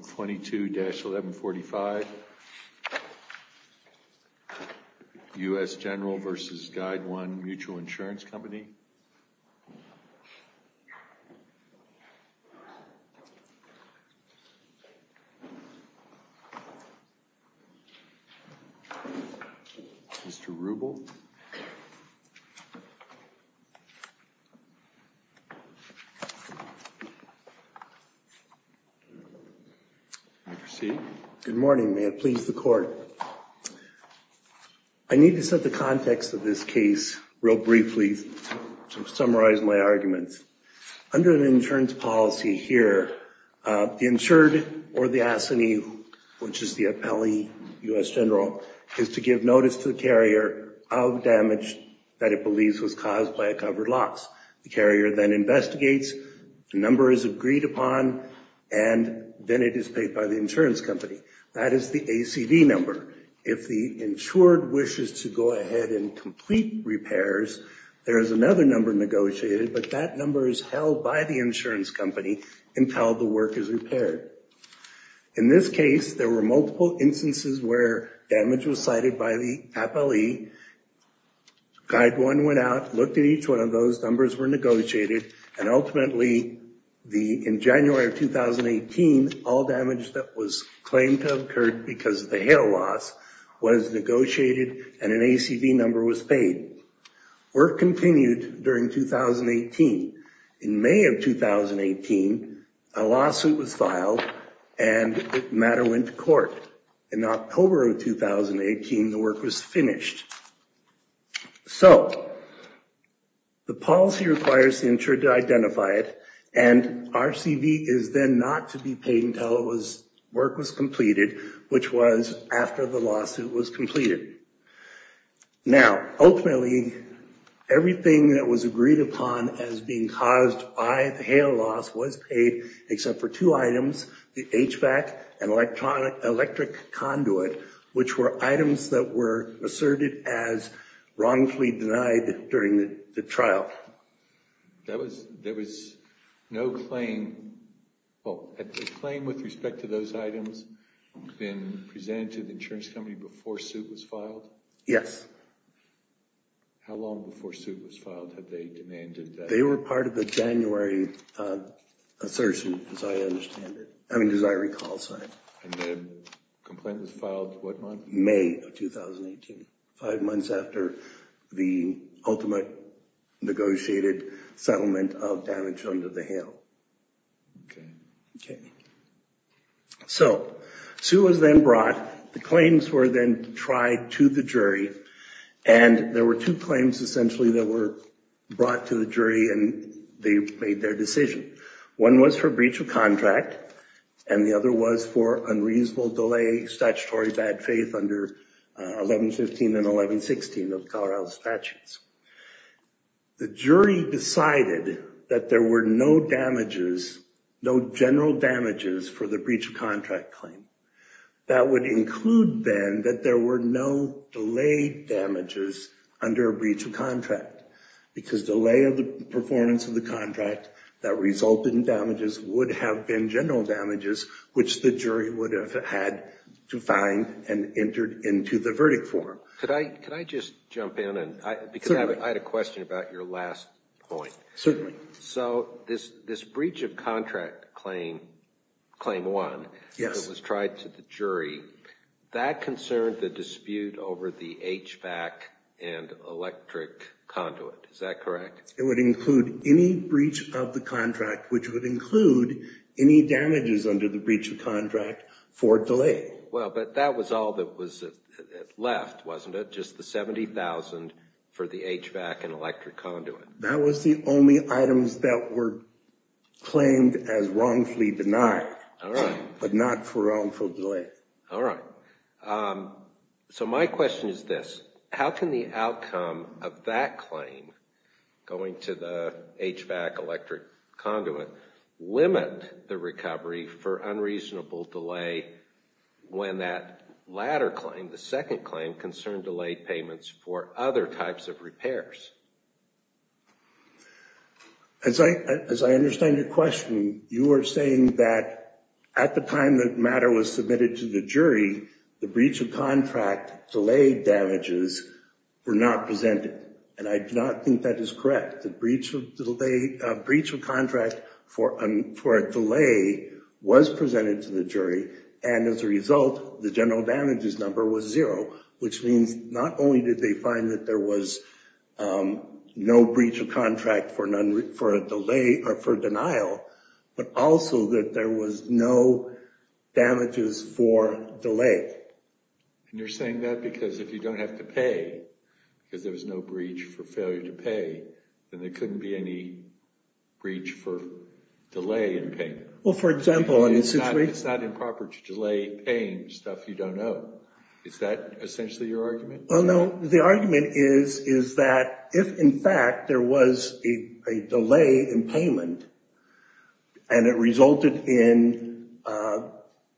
22-1145, U.S. General v. Guideone Mutual Insurance Company. Mr. Rubel. Good morning. May it please the Court. I need to set the context of this case real briefly to summarize my arguments. Under an insurance policy here, the insured or the assignee, which is the appellee, U.S. General, is to give notice to the carrier of damage that it believes was caused by a covered loss. The carrier then investigates, the number is agreed upon, and then it is paid by the insurance company. That is the ACV number. If the insured wishes to go ahead and complete repairs, there is another number negotiated, but that number is held by the insurance company until the work is repaired. In this case, there were multiple instances where damage was cited by the appellee. Guideone went out, looked at each one of those, numbers were negotiated, and ultimately, in January of 2018, all damage that was claimed to have occurred because of the hail loss was negotiated and an ACV number was paid. Work continued during 2018. In May of 2018, a lawsuit was filed and the matter went to court. In October of 2018, the work was finished. So, the policy requires the insured to identify it, and RCV is then not to be paid until work was completed, which was after the lawsuit was completed. Now, ultimately, everything that was agreed upon as being caused by the hail loss was paid, except for two items, the HVAC and electric conduit, which were items that were asserted as wrongfully denied during the trial. There was no claim. Well, had the claim with respect to those items been presented to the insurance company before suit was filed? Yes. How long before suit was filed had they demanded that? They were part of the January assertion, as I understand it, I mean, as I recall, sir. And the complaint was filed what month? May of 2018, five months after the ultimate negotiated settlement of damage under the hail. Okay. Okay. So, suit was then brought. The claims were then tried to the jury, and there were two claims essentially that were brought to the jury, and they made their decision. One was for breach of contract, and the other was for unreasonable delay, statutory bad faith under 1115 and 1116 of Colorado statutes. The jury decided that there were no damages, no general damages for the breach of contract claim. That would include then that there were no delayed damages under a breach of contract, because delay of the performance of the contract that resulted in damages would have been general damages, which the jury would have had to find and entered into the verdict form. Could I just jump in? Certainly. Because I had a question about your last point. Certainly. So, this breach of contract claim, claim one, that was tried to the jury, that concerned the dispute over the HVAC and electric conduit. Is that correct? It would include any breach of the contract, which would include any damages under the breach of contract for delay. Well, but that was all that was left, wasn't it? Just the $70,000 for the HVAC and electric conduit. That was the only items that were claimed as wrongfully denied, but not for wrongful delay. All right. So, my question is this. How can the outcome of that claim, going to the HVAC electric conduit, limit the recovery for unreasonable delay when that latter claim, the second claim, concerned delayed payments for other types of repairs? As I understand your question, you are saying that at the time the matter was submitted to the jury, the breach of contract delayed damages were not presented. And I do not think that is correct. The breach of contract for a delay was presented to the jury, and as a result the general damages number was zero, which means not only did they find that there was no breach of contract for a delay or for denial, but also that there was no damages for delay. And you're saying that because if you don't have to pay, because there was no breach for failure to pay, then there couldn't be any breach for delay in payment. Well, for example, in this situation. It's not improper to delay paying stuff you don't owe. Is that essentially your argument? Well, no. The argument is that if, in fact, there was a delay in payment and it resulted in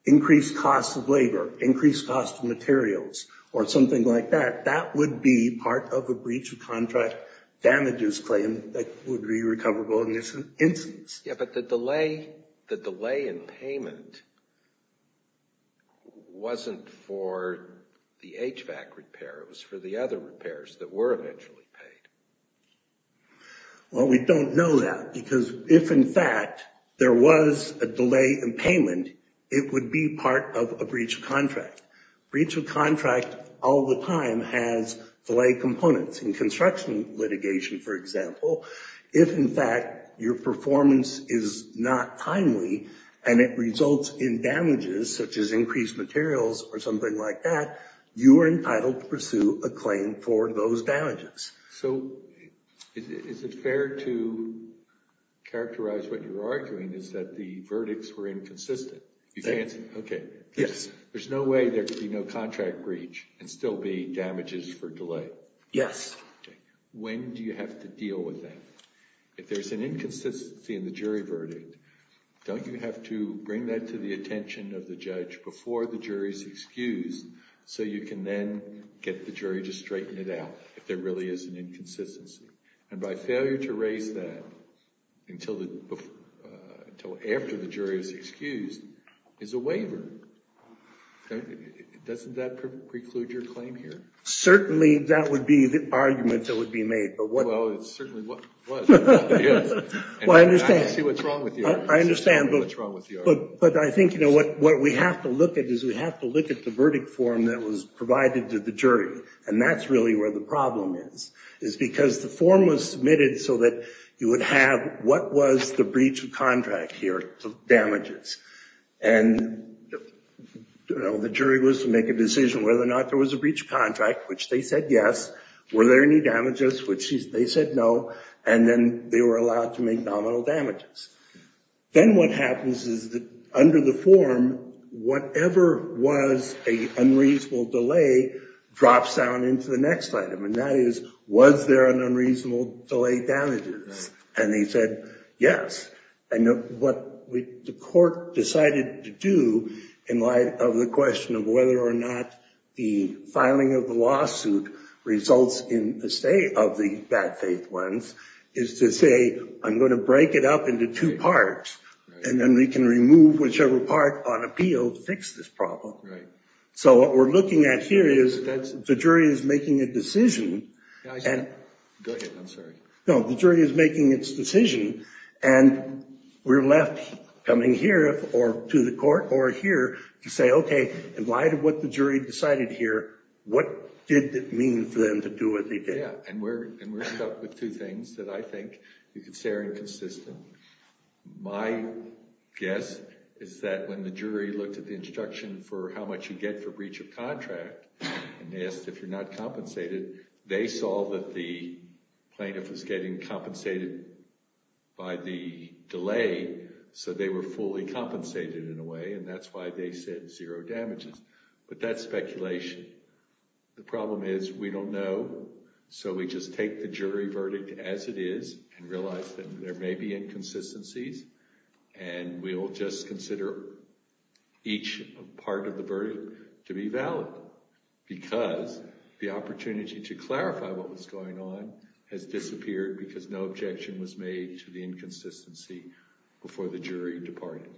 increased cost of labor, increased cost of materials, or something like that, that would be part of a breach of contract damages claim that would be recoverable in this instance. Yeah, but the delay in payment wasn't for the HVAC repair. It was for the other repairs that were eventually paid. Well, we don't know that, because if, in fact, there was a delay in payment, breach of contract all the time has delay components. In construction litigation, for example, if, in fact, your performance is not timely and it results in damages such as increased materials or something like that, you are entitled to pursue a claim for those damages. So is it fair to characterize what you're arguing is that the verdicts were inconsistent? You fancy? Yes. There's no way there could be no contract breach and still be damages for delay. Yes. When do you have to deal with that? If there's an inconsistency in the jury verdict, don't you have to bring that to the attention of the judge before the jury is excused so you can then get the jury to straighten it out if there really is an inconsistency? And by failure to raise that until after the jury is excused is a waiver. Doesn't that preclude your claim here? Certainly that would be the argument that would be made. Well, it certainly was. Well, I understand. I can see what's wrong with you. I understand. I can see what's wrong with you. But I think what we have to look at is we have to look at the verdict form that was provided to the jury, and that's really where the problem is. It's because the form was submitted so that you would have what was the breach of contract here, damages. And the jury was to make a decision whether or not there was a breach of contract, which they said yes. Were there any damages, which they said no. And then they were allowed to make nominal damages. Then what happens is that under the form, whatever was an unreasonable delay drops down into the next item, and that is was there an unreasonable delay damages. And they said yes. And what the court decided to do in light of the question of whether or not the filing of the lawsuit results in the stay of the bad faith ones is to say, I'm going to break it up into two parts, and then we can remove whichever part on appeal to fix this problem. So what we're looking at here is the jury is making a decision. Go ahead, I'm sorry. No, the jury is making its decision, and we're left coming here or to the court or here to say, okay, in light of what the jury decided here, what did it mean for them to do what they did? Yeah, and we're left with two things that I think you could say are inconsistent. My guess is that when the jury looked at the instruction for how much you get for breach of contract and asked if you're not compensated, they saw that the plaintiff was getting compensated by the delay, so they were fully compensated in a way, and that's why they said zero damages. But that's speculation. The problem is we don't know, so we just take the jury verdict as it is and realize that there may be inconsistencies, and we'll just consider each part of the verdict to be valid because the opportunity to clarify what was going on has disappeared because no objection was made to the inconsistency before the jury departed.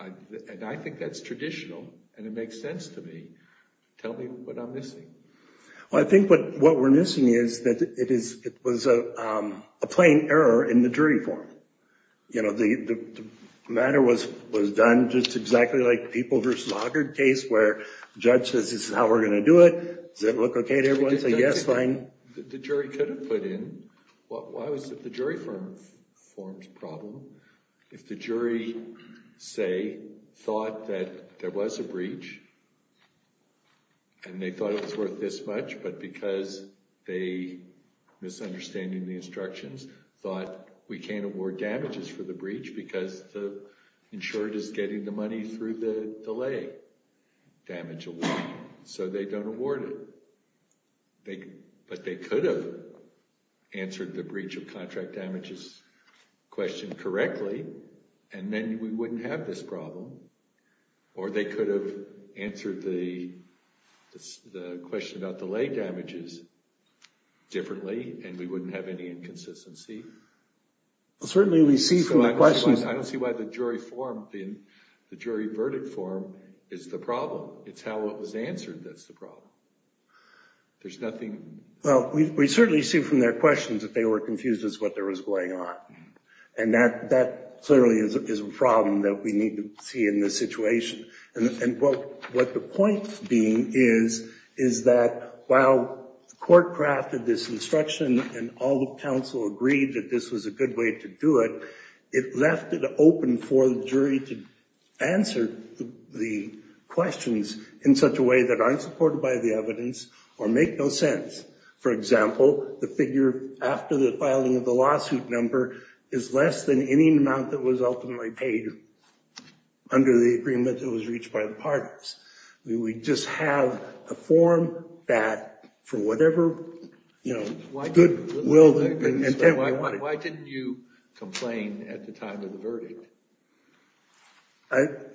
And I think that's traditional, and it makes sense to me. Tell me what I'm missing. Well, I think what we're missing is that it was a plain error in the jury form. You know, the matter was done just exactly like the People v. Laugard case where the judge says this is how we're going to do it. Does that look okay to everyone? Say, yes, fine. The jury could have put in, why was it the jury form's problem if the jury, say, thought that there was a breach and they thought it was worth this much, but because they, misunderstanding the instructions, thought we can't award damages for the breach because the insured is getting the money through the delay damage award, so they don't award it. But they could have answered the breach of contract damages question correctly, and then we wouldn't have this problem. Or they could have answered the question about delay damages differently, and we wouldn't have any inconsistency. Well, certainly we see from the questions. I don't see why the jury verdict form is the problem. It's how it was answered that's the problem. There's nothing. Well, we certainly see from their questions that they were confused as to what was going on. And that clearly is a problem that we need to see in this situation. And what the point being is, is that while the court crafted this instruction and all the counsel agreed that this was a good way to do it, it left it open for the jury to answer the questions in such a way that aren't supported by the evidence or make no sense. For example, the figure after the filing of the lawsuit number is less than any amount that was ultimately paid under the agreement that was reached by the parties. We just have a form that for whatever good will and intent we wanted. Why didn't you complain at the time of the verdict?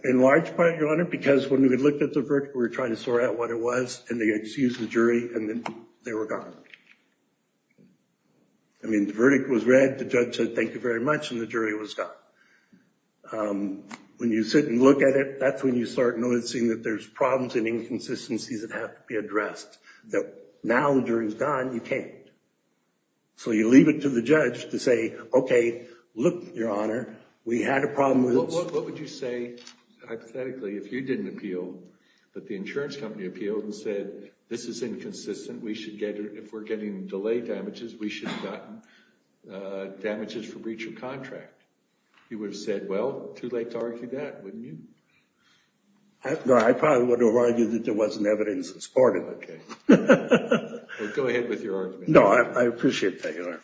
In large part, Your Honor, because when we looked at the verdict, we were trying to sort out what it was, and they excused the jury, and then they were gone. I mean, the verdict was read, the judge said thank you very much, and the jury was gone. When you sit and look at it, that's when you start noticing that there's problems and inconsistencies that have to be addressed, that now the jury's gone, you can't. So you leave it to the judge to say, okay, look, Your Honor, we had a problem. What would you say, hypothetically, if you didn't appeal, but the insurance company appealed and said this is inconsistent, if we're getting delayed damages, we should have gotten damages for breach of contract? You would have said, well, too late to argue that, wouldn't you? No, I probably would have argued that there wasn't evidence to support it. Okay. Well, go ahead with your argument. No, I appreciate that, Your Honor.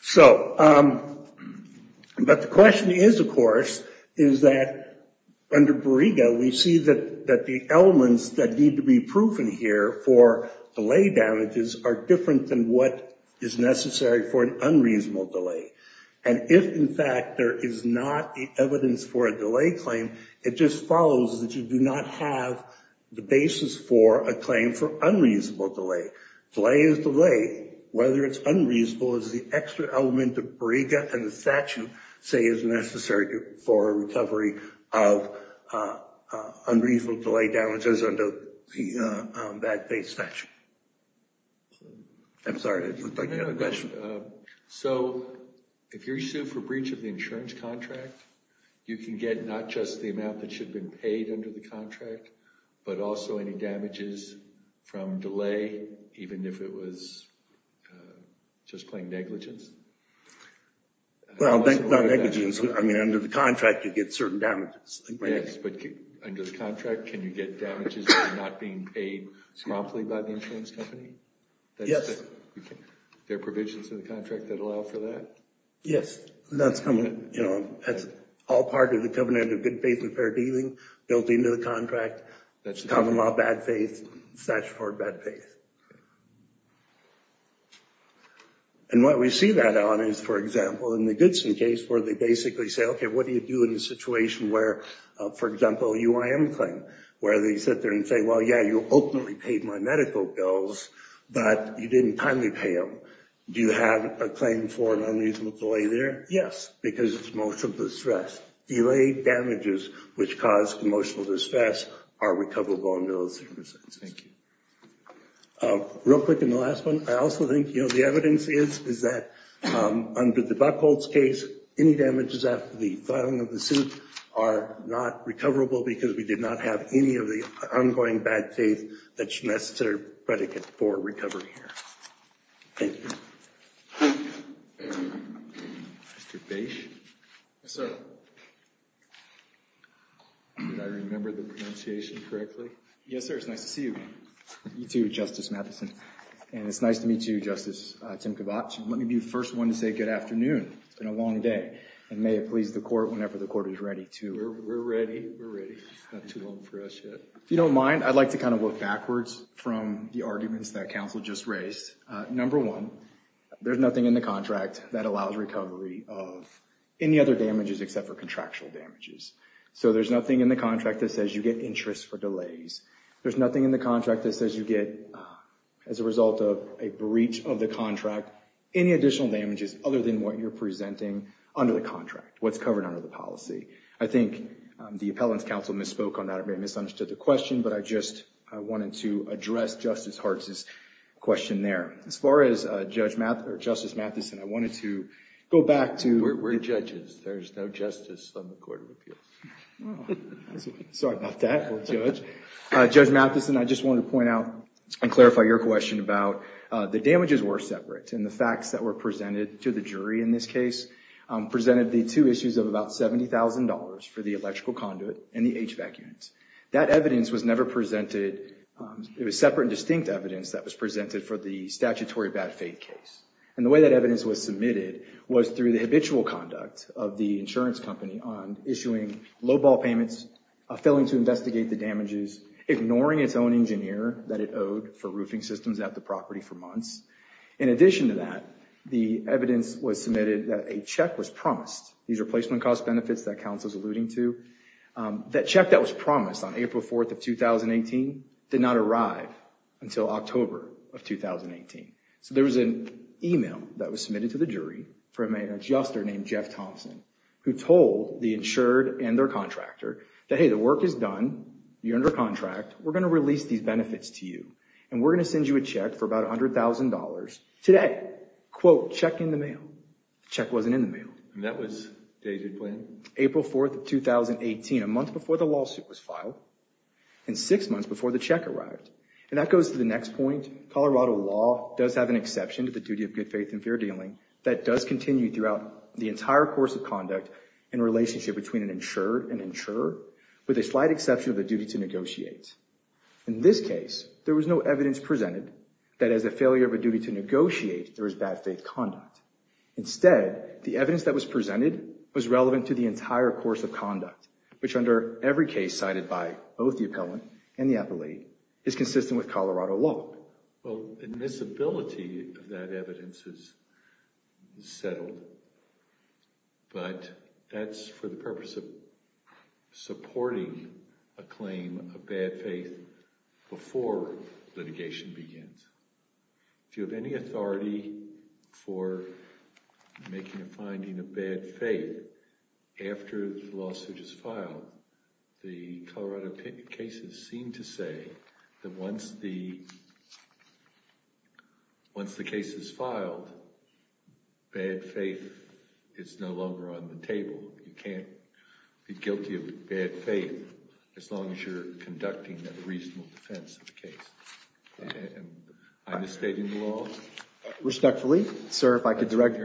So, but the question is, of course, is that under Borrega, we see that the elements that need to be proven here for delay damages are different than what is necessary for an unreasonable delay. And if, in fact, there is not evidence for a delay claim, it just follows that you do not have the basis for a claim for unreasonable delay. Delay is delay. Whether it's unreasonable is the extra element of Borrega and the statute say is necessary for a recovery of unreasonable delay damages under the bad case statute. I'm sorry, it looked like you had a question. So if you're sued for breach of the insurance contract, you can get not just the amount that should have been paid under the contract, but also any damages from delay, even if it was just plain negligence? Well, not negligence. I mean, under the contract, you get certain damages. Yes, but under the contract, can you get damages for not being paid promptly by the insurance company? Yes. Are there provisions in the contract that allow for that? Yes. That's all part of the covenant of good, under the contract, common law bad faith, statutory bad faith. And what we see that on is, for example, in the Goodson case where they basically say, okay, what do you do in a situation where, for example, a UIM claim where they sit there and say, well, yeah, you openly paid my medical bills, but you didn't timely pay them. Do you have a claim for an unreasonable delay there? Yes, because it's most of the stress. Delayed damages, which cause emotional distress, are recoverable in those circumstances. Thank you. Real quick in the last one, I also think, you know, the evidence is that under the Buchholz case, any damages after the filing of the suit are not recoverable because we did not have any of the ongoing bad faith that's necessary predicate for recovery here. Thank you. Mr. Bache? Yes, sir. Did I remember the pronunciation correctly? Yes, sir. It's nice to see you. You too, Justice Matheson. And it's nice to meet you, Justice Tim Kovach. Let me be the first one to say good afternoon. It's been a long day. And may it please the court whenever the court is ready to. We're ready. We're ready. Not too long for us yet. If you don't mind, I'd like to kind of look backwards from the arguments that counsel just raised. Number one, there's nothing in the contract that allows recovery of any other damages except for contractual damages. So there's nothing in the contract that says you get interest for delays. There's nothing in the contract that says you get, as a result of a breach of the contract, any additional damages other than what you're presenting under the contract, what's covered under the policy. I think the appellant's counsel misspoke on that. It may have misunderstood the question, but I just wanted to address Justice Hartz's question there. As far as Justice Matheson, I wanted to go back to- We're judges. There's no justice on the Court of Appeals. Sorry about that, Judge. Judge Matheson, I just wanted to point out and clarify your question about the damages were separate. And the facts that were presented to the jury in this case presented the two issues of about $70,000 for the electrical conduit and the HVAC unit. That evidence was never presented- It was separate and distinct evidence that was presented for the statutory bad faith case. And the way that evidence was submitted was through the habitual conduct of the insurance company on issuing low-ball payments, failing to investigate the damages, ignoring its own engineer that it owed for roofing systems at the property for months. In addition to that, the evidence was submitted that a check was promised. These are placement cost benefits that counsel's alluding to. That check that was promised on April 4th of 2018 did not arrive until October of 2018. So there was an email that was submitted to the jury from an adjuster named Jeff Thompson who told the insured and their contractor that, hey, the work is done, you're under contract, we're going to release these benefits to you, and we're going to send you a check for about $100,000 today. Quote, check in the mail. The check wasn't in the mail. And that was dated when? April 4th of 2018, a month before the lawsuit was filed and six months before the check arrived. And that goes to the next point. Colorado law does have an exception to the duty of good faith and fair dealing that does continue throughout the entire course of conduct in relationship between an insured and insurer with a slight exception of the duty to negotiate. In this case, there was no evidence presented that as a failure of a duty to negotiate, there was bad faith conduct. Instead, the evidence that was presented was relevant to the entire course of conduct, which under every case cited by both the appellant and the appellate is consistent with Colorado law. Well, admissibility of that evidence is settled. But that's for the purpose of supporting a claim of bad faith before litigation begins. Do you have any authority for making a finding of bad faith after the lawsuit is filed? The Colorado cases seem to say that once the case is filed, bad faith is no longer on the table. You can't be guilty of bad faith as long as you're conducting a reasonable defense of the case. I'm just stating the law. Respectfully, sir, if I could direct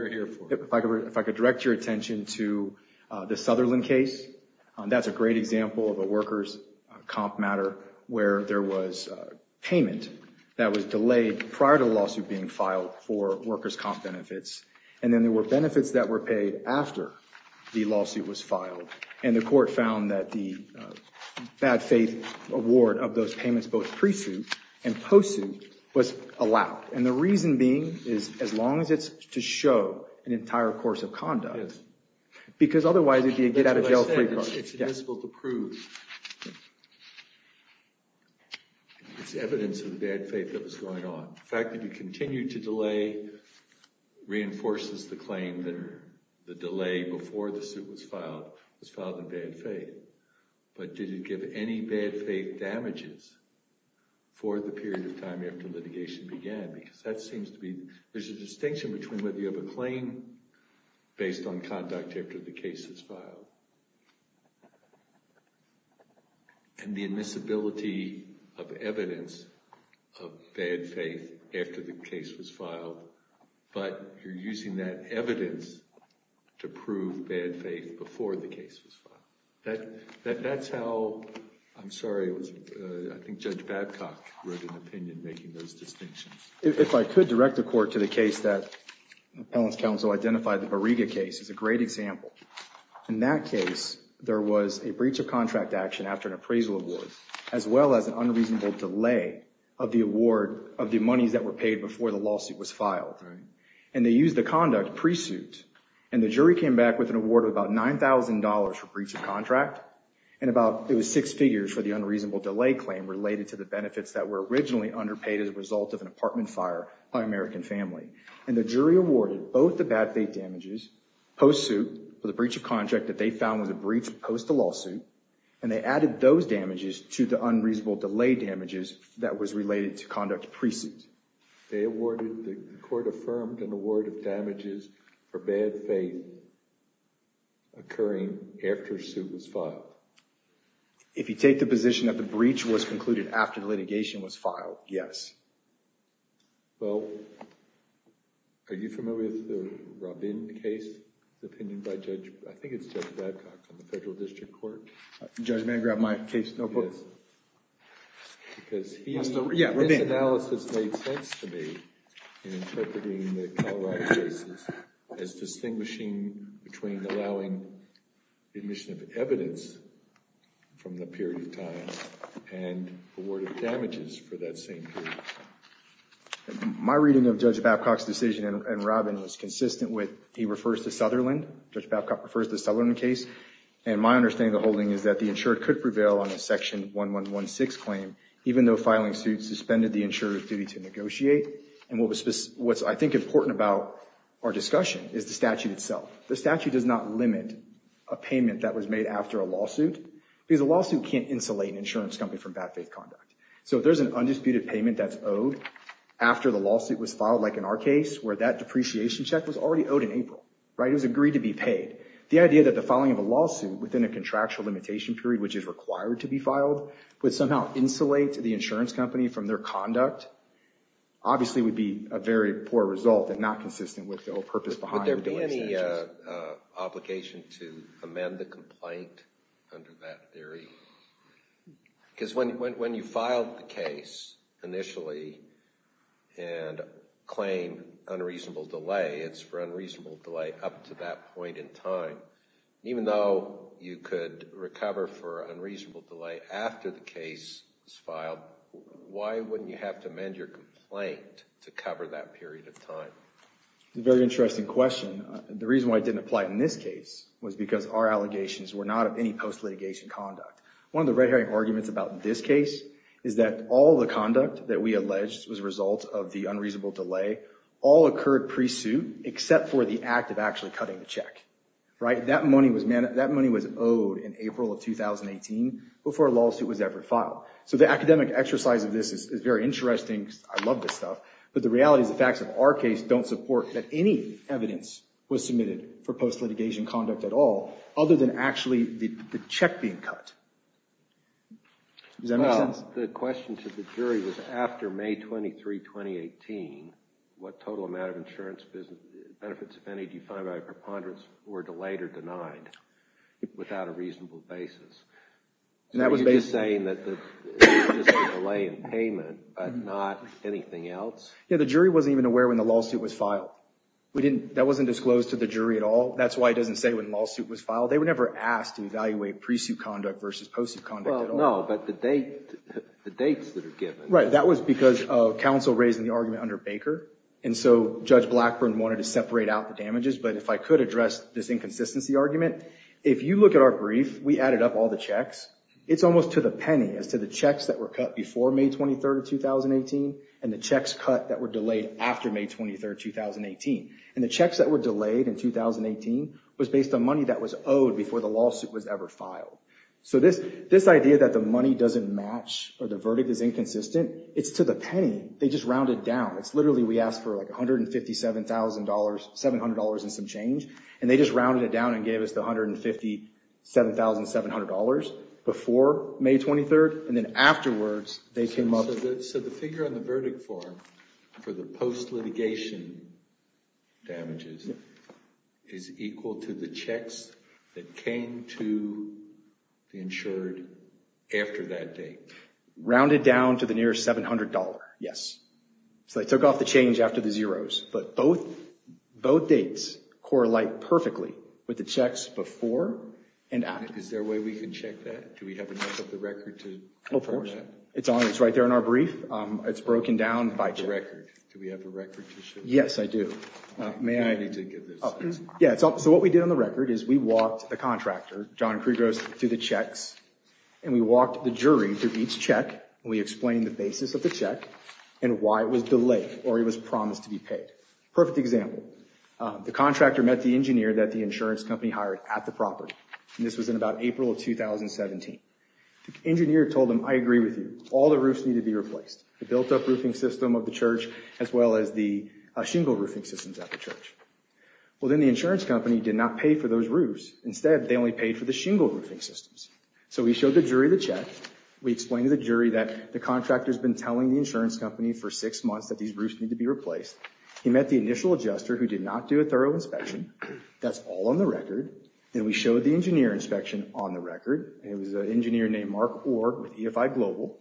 your attention to the Sutherland case. That's a great example of a workers' comp matter where there was payment that was delayed prior to the lawsuit being filed for workers' comp benefits. And then there were benefits that were paid after the lawsuit was filed. And the court found that the bad faith award of those payments, both pre-suit and post-suit, was allowed. And the reason being is as long as it's to show an entire course of conduct. Because otherwise, it would be a get-out-of-jail-free card. It's admissible to prove it's evidence of the bad faith that was going on. The fact that you continue to delay reinforces the claim that the delay before the suit was filed was filed in bad faith. But did it give any bad faith damages for the period of time after litigation began? Because that seems to be, there's a distinction between whether you have a claim based on conduct after the case is filed and the admissibility of evidence of bad faith after the case was filed. before the case was filed. That's how, I'm sorry, I think Judge Babcock wrote an opinion making those distinctions. If I could direct the court to the case that Appellant's counsel identified, the Bariga case is a great example. In that case, there was a breach of contract action after an appraisal award, as well as an unreasonable delay of the award of the monies that were paid before the lawsuit was filed. And they used the conduct pre-suit. And the jury came back with an award of about $9,000 for breach of contract. And about, it was six figures for the unreasonable delay claim related to the benefits that were originally underpaid as a result of an apartment fire by an American family. And the jury awarded both the bad faith damages post-suit for the breach of contract that they found was a breach post the lawsuit. And they added those damages to the unreasonable delay damages that was related to conduct pre-suit. They awarded, the court affirmed an award of damages for bad faith occurring after a suit was filed. If you take the position that the breach was concluded after the litigation was filed, yes. Well, are you familiar with the Rabin case, the opinion by Judge, I think it's Judge Babcock from the Federal District Court. Judge, may I grab my case notebook? Yes. Because he has to read. Yeah, Rabin. This analysis made sense to me in interpreting the Colorado cases as distinguishing between allowing admission of evidence from the period of time and awarded damages for that same period. My reading of Judge Babcock's decision and Rabin was consistent with, he refers to Sutherland. Judge Babcock refers to the Sutherland case. And my understanding of the holding is that the insured could prevail on a section 1116 claim, even though filing suit suspended the insurer's duty to negotiate. What's, I think, important about our discussion is the statute itself. The statute does not limit a payment that was made after a lawsuit, because a lawsuit can't insulate an insurance company from bad faith conduct. So if there's an undisputed payment that's owed after the lawsuit was filed, like in our case, where that depreciation check was already owed in April, it was agreed to be paid. The idea that the filing of a lawsuit within a contractual limitation period, which is required to be filed, would somehow insulate the insurance company from their conduct, obviously would be a very poor result and not consistent with the whole purpose behind the delay. Would there be any obligation to amend the complaint under that theory? Because when you filed the case initially and claimed unreasonable delay, it's for unreasonable delay up to that point in time. Even though you could recover for unreasonable delay after the case is filed, why wouldn't you have to amend your complaint to cover that period of time? It's a very interesting question. The reason why it didn't apply in this case was because our allegations were not of any post-litigation conduct. One of the red herring arguments about this case is that all the conduct that we alleged was a result of the unreasonable delay all occurred pre-suit, except for the act of actually cutting the check. That money was owed in April of 2018 before a lawsuit was ever filed. So the academic exercise of this is very interesting. I love this stuff. But the reality is the facts of our case don't support that any evidence was submitted for post-litigation conduct at all, other than actually the check being cut. Does that make sense? The question to the jury was after May 23, 2018, what total amount of insurance benefits, if any, do you find by a preponderance were delayed or denied without a reasonable basis? Are you just saying that there was a delay in payment, but not anything else? Yeah, the jury wasn't even aware when the lawsuit was filed. That wasn't disclosed to the jury at all. That's why it doesn't say when the lawsuit was filed. They were never asked to evaluate pre-suit conduct versus post-suit conduct at all. Well, no, but the dates that are given. Right, that was because of counsel raising the argument under Baker. And so Judge Blackburn wanted to separate out the damages. But if I could address this inconsistency argument, if you look at our brief, we added up all the checks. It's almost to the penny as to the checks that were cut before May 23, 2018, and the checks cut that were delayed after May 23, 2018. And the checks that were delayed in 2018 was based on money that was owed before the lawsuit was ever filed. So this idea that the money doesn't match or the verdict is inconsistent, it's to the penny. They just rounded down. It's literally we asked for $157,000, $700 and some change, and they just rounded it down and gave us the $157,700 before May 23. And then afterwards, they came up with it. So the figure on the verdict form for the post-litigation damages is equal to the checks that came to the insured after that date? Rounded down to the near $700, yes. So they took off the change after the zeros. But both dates correlate perfectly with the checks before and after. Is there a way we can check that? Do we have enough of the record to confirm that? Of course. It's right there in our brief. It's broken down by check. The record. Do we have the record to show that? Yes, I do. May I? I need to get this. Yeah, so what we did on the record is we walked the contractor, John Krugos, through the checks, and we walked the jury through each check, and we explained the basis of the check and why it was delayed or it was promised to be paid. Perfect example. The contractor met the engineer that the insurance company hired at the property. And this was in about April of 2017. The engineer told him, I agree with you. All the roofs need to be replaced, the built-up roofing system of the church as well as the shingle roofing systems at the church. Well, then the insurance company did not pay for those roofs. Instead, they only paid for the shingle roofing systems. So we showed the jury the check. We explained to the jury that the contractor's been telling the insurance company for six months that these roofs need to be replaced. He met the initial adjuster who did not do a thorough inspection. That's all on the record. Then we showed the engineer inspection on the record. It was an engineer named Mark Orr with EFI Global.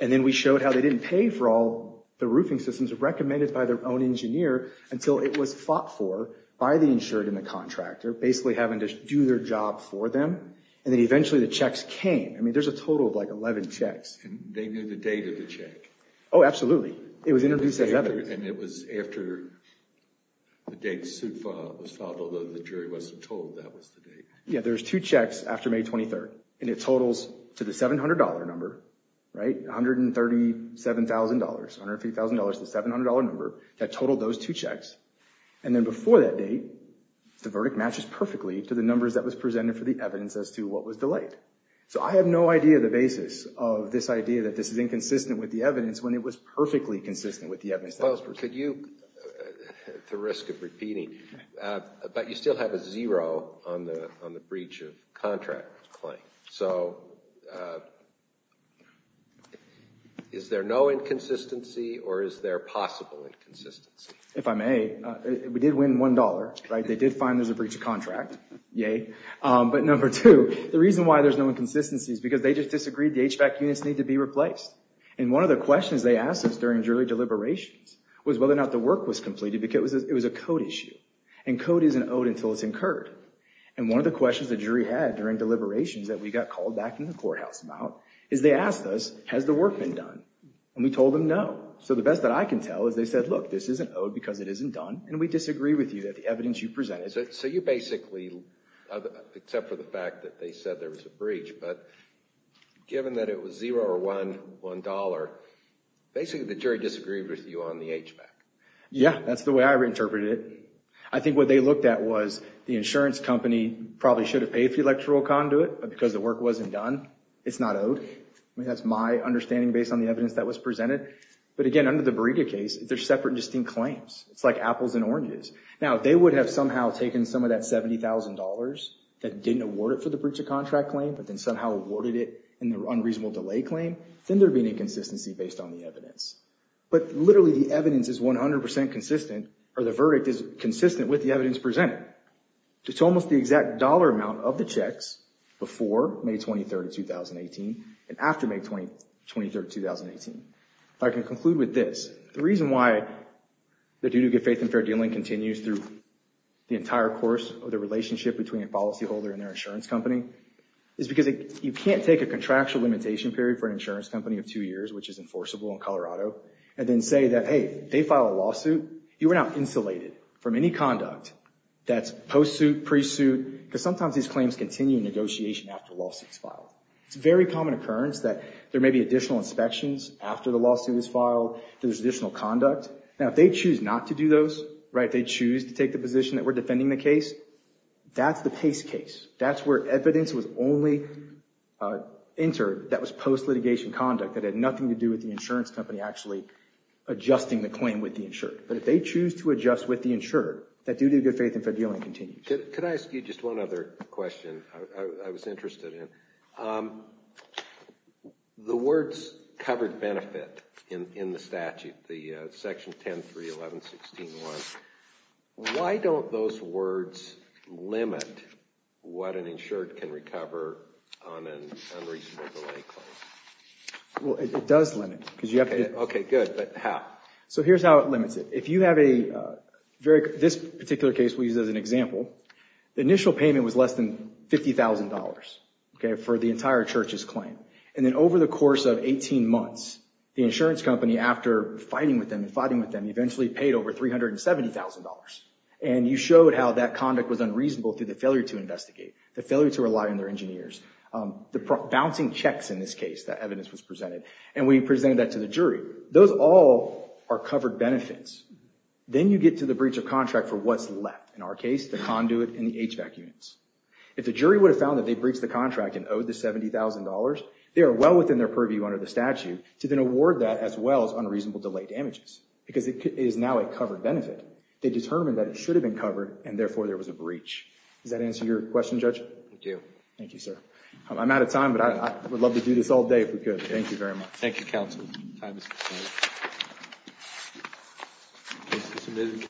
And then we showed how they didn't pay for all the roofing systems recommended by their own engineer until it was fought for by the insured and the contractor, basically having to do their job for them. And then eventually the checks came. I mean, there's a total of like 11 checks. And they knew the date of the check. Oh, absolutely. It was introduced as evidence. And it was after the date the suit was filed, although the jury wasn't told that was the date. Yeah, there's two checks after May 23rd. And it totals to the $700 number, right? $137,000, $130,000, the $700 number that totaled those two checks. And then before that date, the verdict matches perfectly to the numbers that was presented for the evidence as to what was delayed. So I have no idea the basis of this idea that this is inconsistent with the evidence when it was perfectly consistent with the evidence. Well, could you, at the risk of repeating, but you still have a zero on the breach of contract claim. So is there no inconsistency? Or is there possible inconsistency? If I may, we did win $1. They did find there's a breach of contract. Yay. But number two, the reason why there's no inconsistency is because they just disagreed the HVAC units need to be replaced. And one of the questions they asked us during jury deliberations was whether or not the work was completed. It was a code issue. And code isn't owed until it's incurred. And one of the questions the jury had during deliberations that we got called back in the courthouse about is they asked us, has the work been done? And we told them no. So the best that I can tell is they said, look, this isn't owed because it isn't done. And we disagree with you that the evidence you presented. So you basically, except for the fact that they said there was a breach, but given that it was 0 or 1, $1, basically the jury disagreed with you on the HVAC. Yeah. That's the way I interpreted it. I think what they looked at was the insurance company probably should have paid for the electoral conduit, but because the work wasn't done, it's not owed. I mean, that's my understanding based on the evidence that was presented. they're separate and distinct claims. It's like apples and oranges. Now, if they would have somehow taken some of that $70,000 that didn't award it for the breach of contract claim, but then somehow awarded it in the unreasonable delay claim, then there'd be an inconsistency based on the evidence. But literally, the evidence is 100% consistent, or the verdict is consistent with the evidence presented. It's almost the exact dollar amount of the checks before May 23, 2018 and after May 23, 2018. If I can conclude with this, the reason why the do-do-good-faith-and-fair-dealing continues through the entire course of the relationship between a policyholder and their insurance company is because you can't take a contractual limitation period for an insurance company of two years, which is enforceable in Colorado, and then say that, hey, they filed a lawsuit. You are now insulated from any conduct that's post-suit, pre-suit, because sometimes these claims continue in negotiation after a lawsuit is filed. It's a very common occurrence that there may be additional inspections after the lawsuit is filed, there's additional conduct. Now, if they choose not to do those, if they choose to take the position that we're defending the case, that's the case case. That's where evidence was only entered that was post-litigation conduct that had nothing to do with the insurance company actually adjusting the claim with the insured. But if they choose to adjust with the insured, that do-do-good-faith-and-fair-dealing continues. Could I ask you just one other question I was interested in? The words covered benefit in the statute, the section 10.3.11.16.1, why don't those words limit what an insured can recover on an unreasonable delay claim? Well, it does limit. OK, good. But how? So here's how it limits it. If you have a very, this particular case we use as an example, the initial payment was less than $50,000 for the entire church's claim. And then over the course of 18 months, the insurance company, after fighting with them and fighting with them, eventually paid over $370,000. And you showed how that conduct was unreasonable through the failure to investigate, the failure to rely on their engineers, the bouncing checks in this case, that evidence was presented. And we presented that to the jury. Those all are covered benefits. Then you get to the breach of contract for what's left. In our case, the conduit and the HVAC units. If the jury would have found that they breached the contract and owed the $70,000, they are well within their purview under the statute to then award that as well as unreasonable delay damages. Because it is now a covered benefit. They determined that it should have been covered, and therefore there was a breach. Does that answer your question, Judge? It do. Thank you, sir. I'm out of time, but I would love to do this all day if we could. Thank you very much. Thank you, counsel. Time is up.